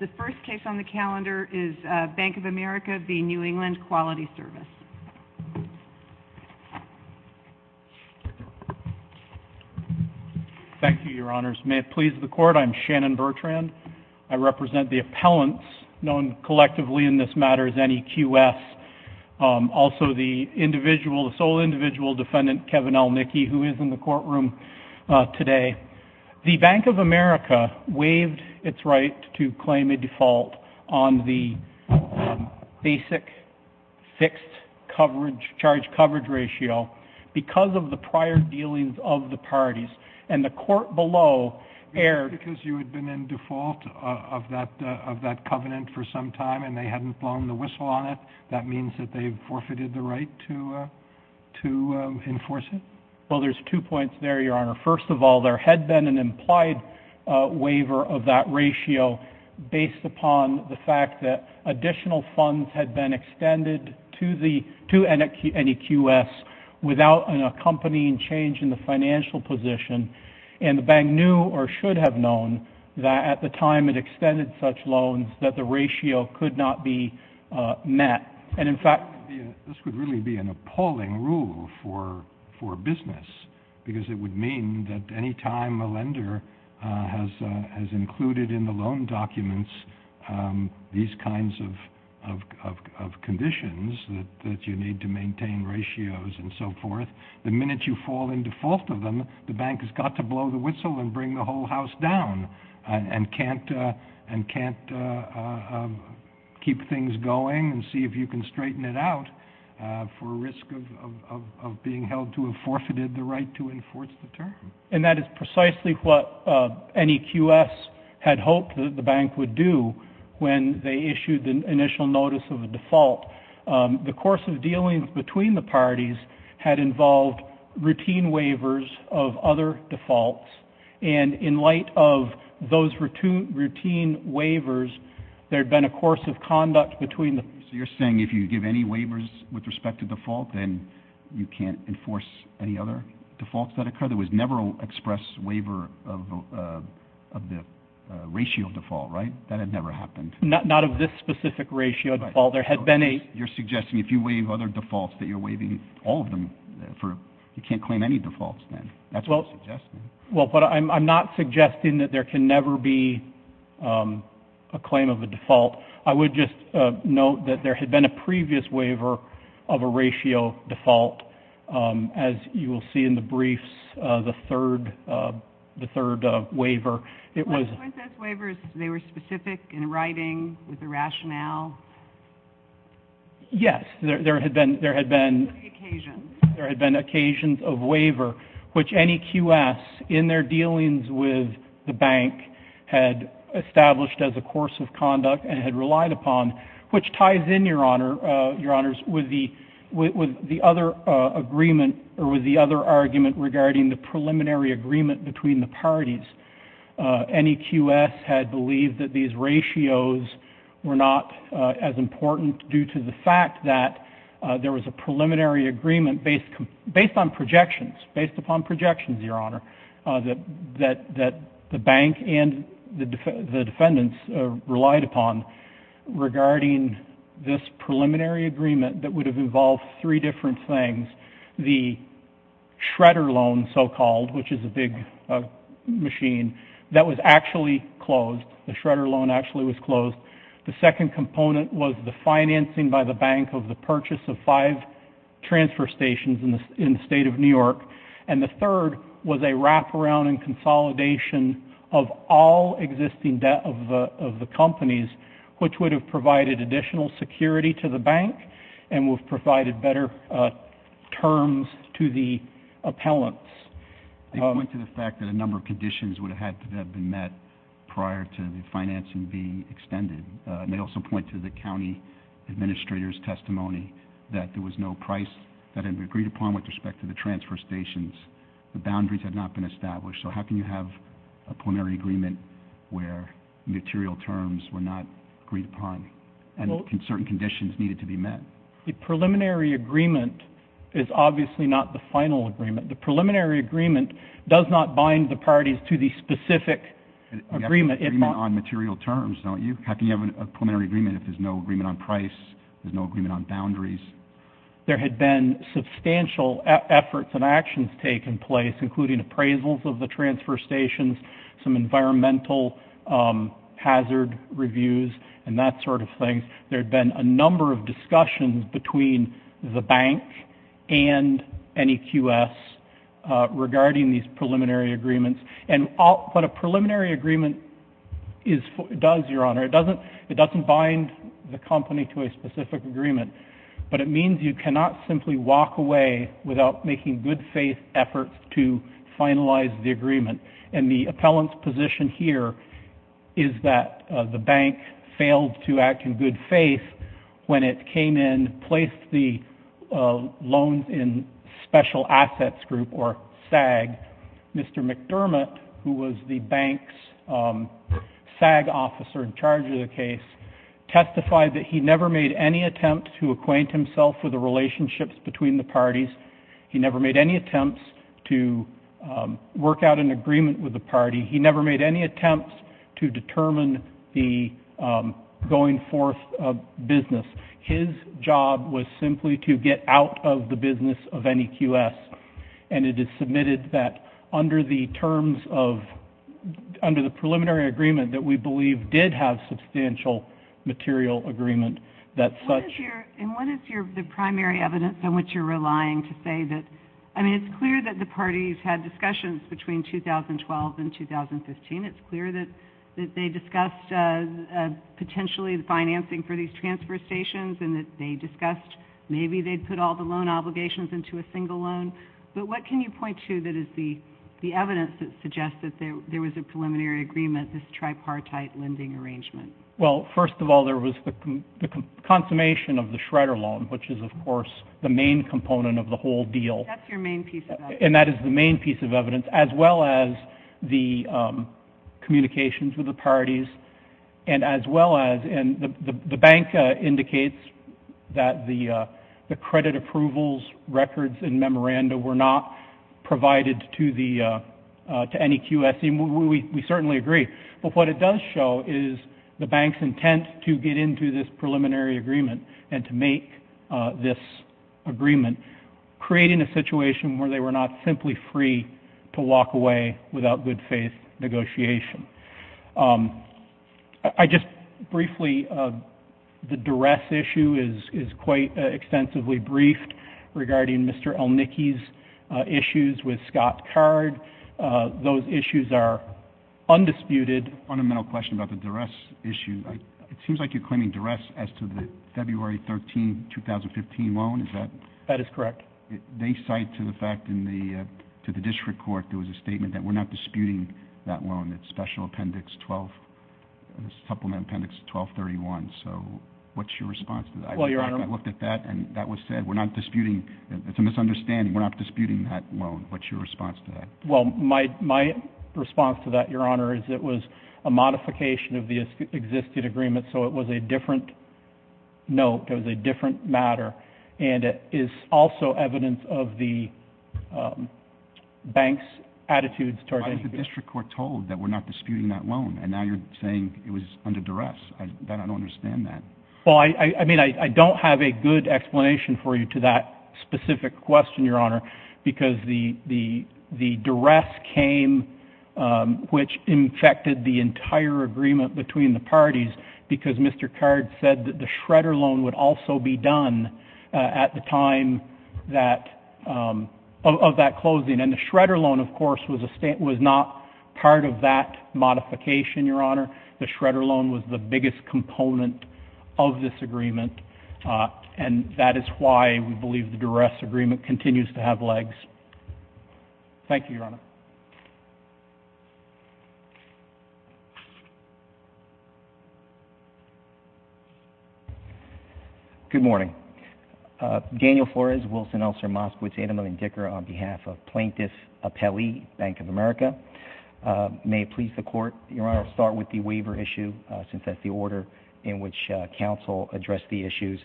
The first case on the calendar is Bank of America v. New England Quality Service. Thank you, Your Honors. May it please the Court, I'm Shannon Bertrand. I represent the appellants known collectively in this matter as NEQS, also the sole individual defendant Kevin Elnicky, who is in the courtroom today. The Bank of America waived its right to claim a default on the basic fixed charge coverage ratio because of the prior dealings of the parties, and the court below erred... Because you had been in default of that covenant for some time and they hadn't blown the whistle on it, that means that they've forfeited the right to enforce it? Well there's two points there, Your Honor. First of all, there had been an implied waiver of that ratio based upon the fact that additional funds had been extended to NEQS without an accompanying change in the financial position, and the bank knew or should have known that at the time it extended such loans that the ratio could not be met. And in fact... This would really be an appalling rule for business, because it would mean that any time a lender has included in the loan documents these kinds of conditions that you need to maintain ratios and so forth, the minute you fall in default of them, the bank has got to blow the whistle and bring the whole house down, and can't keep things going and see if you can straighten it out for risk of being held to have forfeited the right to enforce the term. And that is precisely what NEQS had hoped that the bank would do when they issued the initial notice of a default. The course of dealings between the parties had involved routine waivers of other defaults, and in light of those routine waivers, there'd been a course of conduct between the... So you're saying if you give any waivers with respect to default, then you can't enforce any other defaults that occur? There was never an express waiver of the ratio default, right? That had never happened? Not of this specific ratio default. There had been a... You're suggesting if you waive other defaults that you're waiving all of them for... You can't claim any defaults then. That's what you're suggesting. Well, but I'm not suggesting that there can never be a claim of a default. I would just note that there had been a previous waiver of a ratio default, as you will see in the briefs, the third waiver. It was... Weren't those waivers, they were specific in writing, with the rationale? Yes. There had been... There had been... Occasions. There had been occasions of waiver, which NEQS, in their dealings with the bank, had established as a course of conduct and had relied upon, which ties in, Your Honors, with the other agreement, or with the other argument regarding the preliminary agreement between the parties. NEQS had believed that these ratios were not as important due to the fact that there was a preliminary agreement based on projections, based upon projections, Your Honor, that the defendants relied upon regarding this preliminary agreement that would have involved three different things. The shredder loan, so-called, which is a big machine, that was actually closed. The shredder loan actually was closed. The second component was the financing by the bank of the purchase of five transfer stations in the state of New York. And the companies, which would have provided additional security to the bank and would have provided better terms to the appellants. They point to the fact that a number of conditions would have had to have been met prior to the financing being extended. And they also point to the county administrator's testimony that there was no price that had been agreed upon with respect to the transfer stations. The material terms were not agreed upon and certain conditions needed to be met. The preliminary agreement is obviously not the final agreement. The preliminary agreement does not bind the parties to the specific agreement. You have an agreement on material terms, don't you? How can you have a preliminary agreement if there's no agreement on price, there's no agreement on boundaries? There had been substantial efforts and actions taking place, including appraisals of the hazard reviews and that sort of thing. There had been a number of discussions between the bank and NEQS regarding these preliminary agreements. And what a preliminary agreement does, Your Honor, it doesn't bind the company to a specific agreement. But it means you cannot simply walk away without making good faith efforts to the bank. The bank failed to act in good faith when it came in and placed the loans in special assets group, or SAG. Mr. McDermott, who was the bank's SAG officer in charge of the case, testified that he never made any attempts to acquaint himself with the relationships between the parties. He never made any attempts to work out an agreement with the party. He never made any attempts to determine the going forth business. His job was simply to get out of the business of NEQS. And it is submitted that under the terms of, under the preliminary agreement that we believe did have substantial material agreement, that such... And what is your, the primary evidence on which you're relying to say that, I mean, it's clear that the parties had discussions between 2012 and 2015. It's clear that they discussed potentially the financing for these transfer stations and that they discussed maybe they'd put all the loan obligations into a single loan. But what can you point to that is the evidence that suggests that there was a preliminary agreement, this tripartite lending arrangement? Well, first of all, there was the consummation of the Schrader loan, which is, of course, the main component of the whole deal. That's your main piece of evidence. And that is the main piece of evidence, as well as the communications with the parties and as well as, and the bank indicates that the credit approvals, records and memoranda were not provided to the, to NEQS. We certainly agree. But what it does show is the bank's preliminary agreement and to make this agreement, creating a situation where they were not simply free to walk away without good faith negotiation. I just briefly, the duress issue is quite extensively briefed regarding Mr. Elnicki's issues with Scott Card. Those issues are undisputed. Fundamental question about the duress issue. It seems like you're claiming duress as to the February 13, 2015 loan. Is that? That is correct. They cite to the fact in the, to the district court, there was a statement that we're not disputing that loan, that special appendix 12, supplement appendix 1231. So what's your response to that? I looked at that and that was said, we're not disputing. It's a misunderstanding. We're not disputing that loan. What's your response to that? Well, my, my response to that, Your Honor, is it was a modification of the existing agreement. So it was a different note. It was a different matter. And it is also evidence of the bank's attitudes towards it. Why was the district court told that we're not disputing that loan? And now you're saying it was under duress. I don't understand that. Well, I mean, I don't have a good explanation for you to that specific question, Your Honor, because the, the, the duress came, which infected the entire agreement between the parties, because Mr. Card said that the shredder loan would also be done at the time that, of that closing. And the shredder loan, of course, was a state, was not part of that modification, Your Honor. The shredder loan was the biggest component of this agreement. And that is why we believe the duress agreement continues to have legs. Thank you, Your Honor. Good morning. Daniel Flores, Wilson, Elser, Moskowitz, Edelman, and Dicker on behalf of Plaintiff Appellee, Bank of America. May it please the court, Your Honor, start with the issues.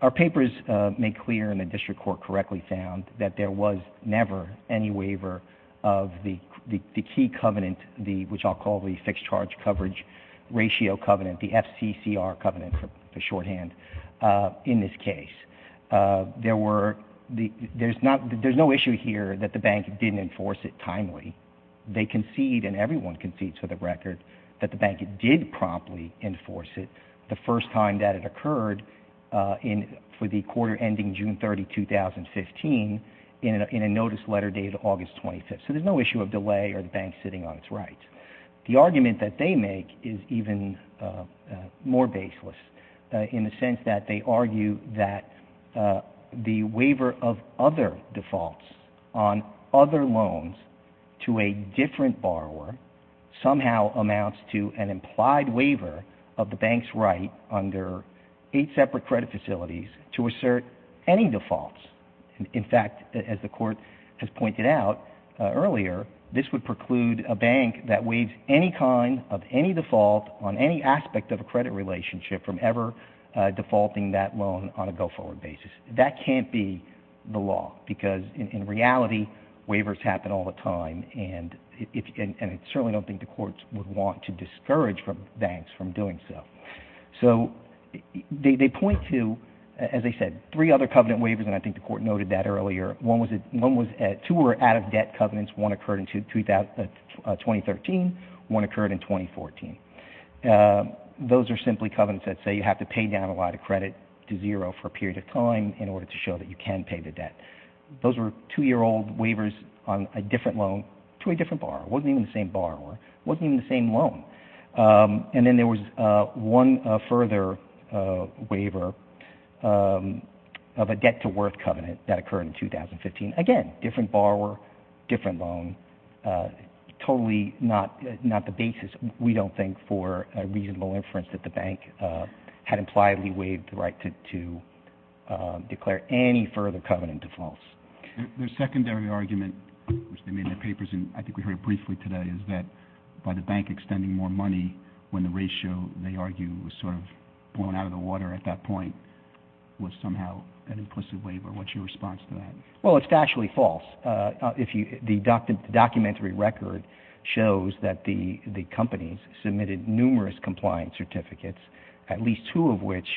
Our papers make clear, and the district court correctly found, that there was never any waiver of the, the, the key covenant, the, which I'll call the fixed charge coverage ratio covenant, the FCCR covenant, for shorthand, in this case. There were, the, there's not, there's no issue here that the bank didn't enforce it timely. They concede, and everyone concedes for the record, that the bank did promptly enforce it the first time that it occurred in, for the quarter ending June 30, 2015, in a, in a notice letter dated August 25th. So there's no issue of delay or the bank sitting on its rights. The argument that they make is even more baseless in the sense that they argue that the waiver of other defaults on other loans to a different borrower somehow amounts to an implied waiver of the bank's right under eight separate credit facilities to assert any defaults. In fact, as the court has pointed out earlier, this would preclude a bank that waives any kind of any default on any aspect of a credit relationship from ever defaulting that loan on a go-forward basis. That can't be the law, because in reality, waivers happen all the time, and I certainly don't think the courts would want to discourage banks from doing so. So they point to, as I said, three other covenant waivers, and I think the court noted that earlier. One was, two were out-of-debt covenants. One occurred in 2013. One occurred in 2014. Those are simply covenants that say you have to pay down a lot of credit to zero for a period of time in order to show that you can pay the debt. Those were two-year-old waivers on a different loan to a different borrower. It wasn't even the same borrower. It wasn't even the same loan. And then there was one further waiver of a debt-to-worth covenant that occurred in 2015. Again, different borrower, different loan. Totally not the basis, we don't think, for a reasonable inference that the bank had impliedly waived the right to pay the debt-to-worth covenants. One of the papers, and I think we heard it briefly today, is that by the bank extending more money when the ratio, they argue, was sort of blown out of the water at that point, was somehow an implicit waiver. What's your response to that? Well, it's actually false. The documentary record shows that the companies submitted numerous compliance certificates, at least two of which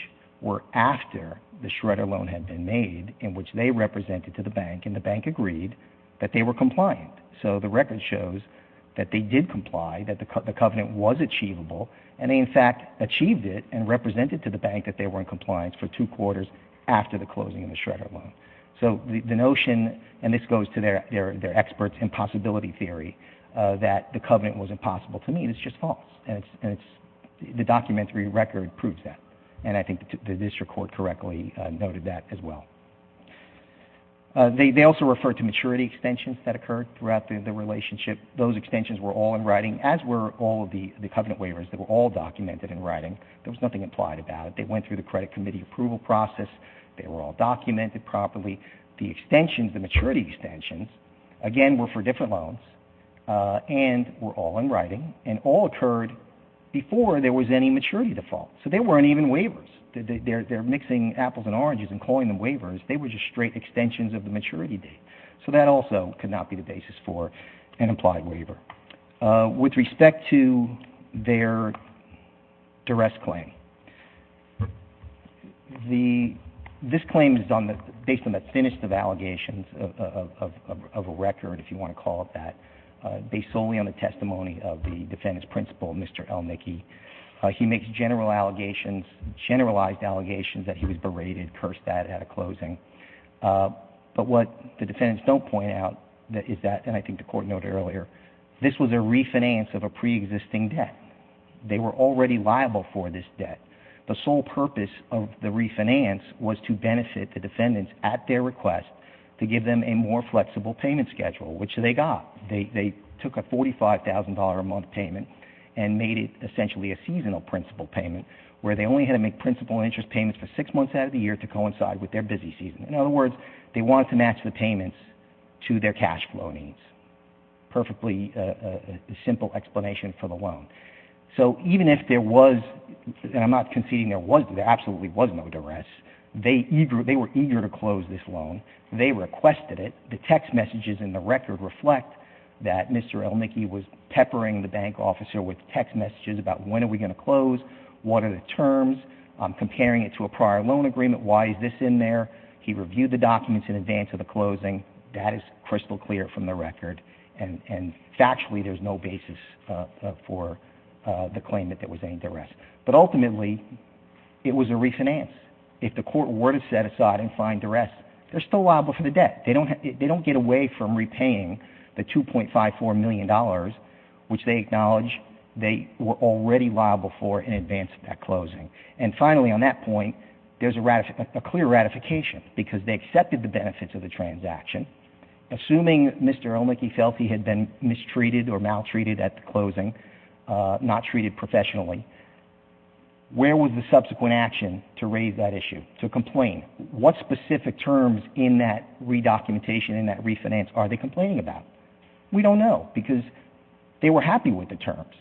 were after the Schroeder loan had been made, in which they represented to the bank, and the bank agreed that they were compliant. The record shows that they did comply, that the covenant was achievable, and they, in fact, achieved it and represented to the bank that they were in compliance for two quarters after the closing of the Schroeder loan. So the notion, and this goes to their experts in possibility theory, that the covenant was impossible to meet is just false. The documentary record proves that, and I think the district court correctly noted that as well. They also referred to maturity extensions that occurred throughout the relationship. Those extensions were all in writing, as were all of the covenant waivers. They were all documented in writing. There was nothing implied about it. They went through the credit committee approval process. They were all documented properly. The extensions, the maturity extensions, again, were for different loans and were all in writing, and all occurred before there was any maturity default. So they weren't even waivers. They're mixing apples and oranges and calling them waivers. They were just straight extensions of the maturity date. So that also could not be the basis for an implied waiver. With respect to their duress claim, this claim is based on the thinnest of allegations of a record, if you want to call it that, based solely on the testimony of the defendant's principal, Mr. Elnicky. He makes general allegations, generalized allegations, that he was berated, cursed at at a closing. But what the defendants don't point out is that, and I think the court noted earlier, this was a refinance of a preexisting debt. They were already liable for this debt. The sole purpose of the refinance was to benefit the defendants at their request to give them a more flexible payment schedule, which they got. They took a $45,000 a month payment and made it essentially a seasonal principal payment, where they only had to make principal interest payments for six months out of the year to coincide with their busy season. In other words, they wanted to match the payments to their cash flow needs. Perfectly simple explanation for the loan. So even if there was, and I'm not conceding there absolutely was no duress, they were eager to close this loan. They requested it. The text messages in the record reflect that Mr. Elnicky was peppering the bank officer with text messages about, when are we going to close? What are the terms? I'm comparing it to a prior loan agreement. Why is this in there? He reviewed the documents in advance of the closing. That is crystal clear from the record. And factually, there's no basis for the claim that there was any duress. But ultimately, it was a refinance. If the court were to set aside and find duress, they're still liable for the debt. They don't get away from repaying the $2.54 million, which they acknowledge they were already liable for in advance of that closing. And finally, on that point, there's a clear ratification because they accepted the benefits of the transaction. Assuming Mr. Elnicky felt he had been mistreated or maltreated at the closing, not treated professionally, where was the subsequent action to raise that issue, to complain? What specific terms in that re-documentation, in that refinance, are they complaining about? We don't know because they were happy with the terms.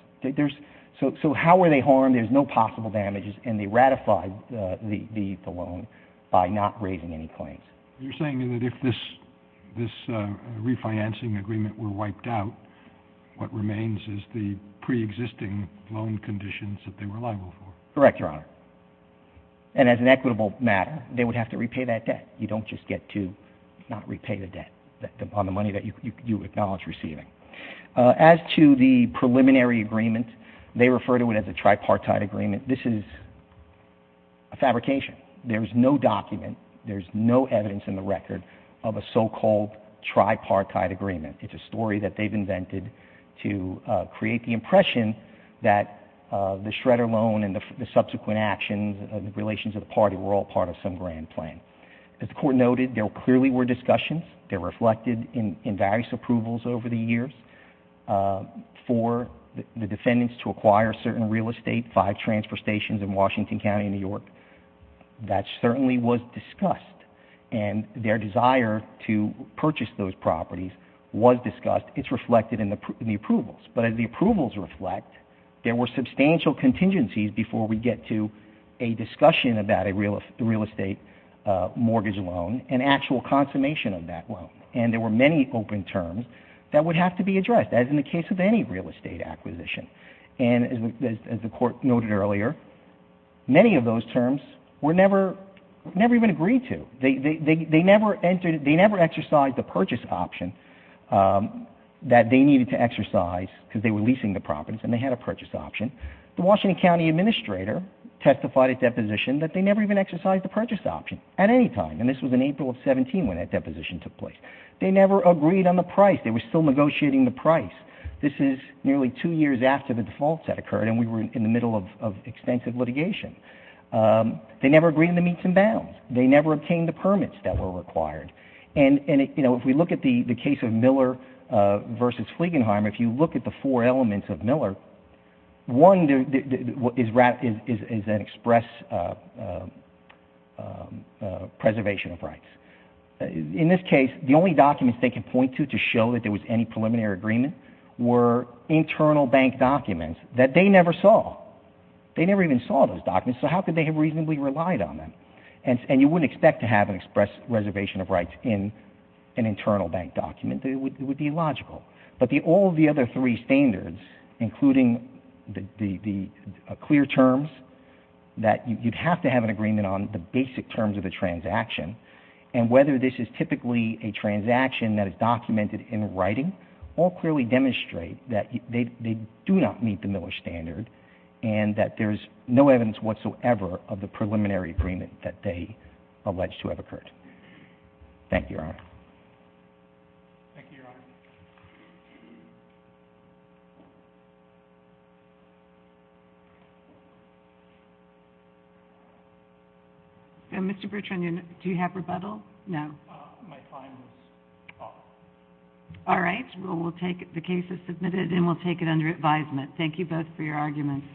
So how were they harmed? There's no possible damages. And they ratified the loan by not raising any claims. You're saying that if this refinancing agreement were wiped out, what remains is the pre-existing loan conditions that they were liable for? Correct, Your Honor. And as an equitable matter, they would have to repay that debt. You don't just get to not repay the debt on the money that you acknowledge receiving. As to the preliminary agreement, they refer to it as a tripartite agreement. This is a fabrication. There's no document, there's no evidence in the record of a so-called tripartite agreement. It's a story that they've invented to create the impression that the Schroeder loan and the There clearly were discussions. They're reflected in various approvals over the years for the defendants to acquire certain real estate, five transfer stations in Washington County, New York. That certainly was discussed. And their desire to purchase those properties was discussed. It's reflected in the approvals. But as the approvals reflect, there were substantial contingencies before we get to a discussion about a real estate mortgage loan and actual consummation of that loan. And there were many open terms that would have to be addressed, as in the case of any real estate acquisition. And as the Court noted earlier, many of those terms were never even agreed to. They never exercised the purchase option that they needed to exercise because they were leasing the properties and they had a purchase option. The Washington County Administrator testified at deposition that they never even in April of 17 when that deposition took place. They never agreed on the price. They were still negotiating the price. This is nearly two years after the defaults had occurred and we were in the middle of extensive litigation. They never agreed on the meets and bounds. They never obtained the permits that were required. And if we look at the case of Miller versus Fliegenheim, if you look at the four elements of Miller, one is an express preservation of rights. In this case, the only documents they could point to to show that there was any preliminary agreement were internal bank documents that they never saw. They never even saw those documents, so how could they have reasonably relied on them? And you wouldn't expect to have an express reservation of rights in an internal bank document. It would be illogical. But all of the other three standards, including the clear terms that you'd have to have an agreement on, the basic terms of the transaction, and whether this is typically a transaction that is documented in writing, all clearly demonstrate that they do not meet the Miller standard and that there's no evidence whatsoever of the preliminary agreement that they allege to have met the Miller standard. And Mr. Bertrand, do you have rebuttal? No. All right, well, we'll take the case as submitted and we'll take it under advisement. Thank you both for your arguments.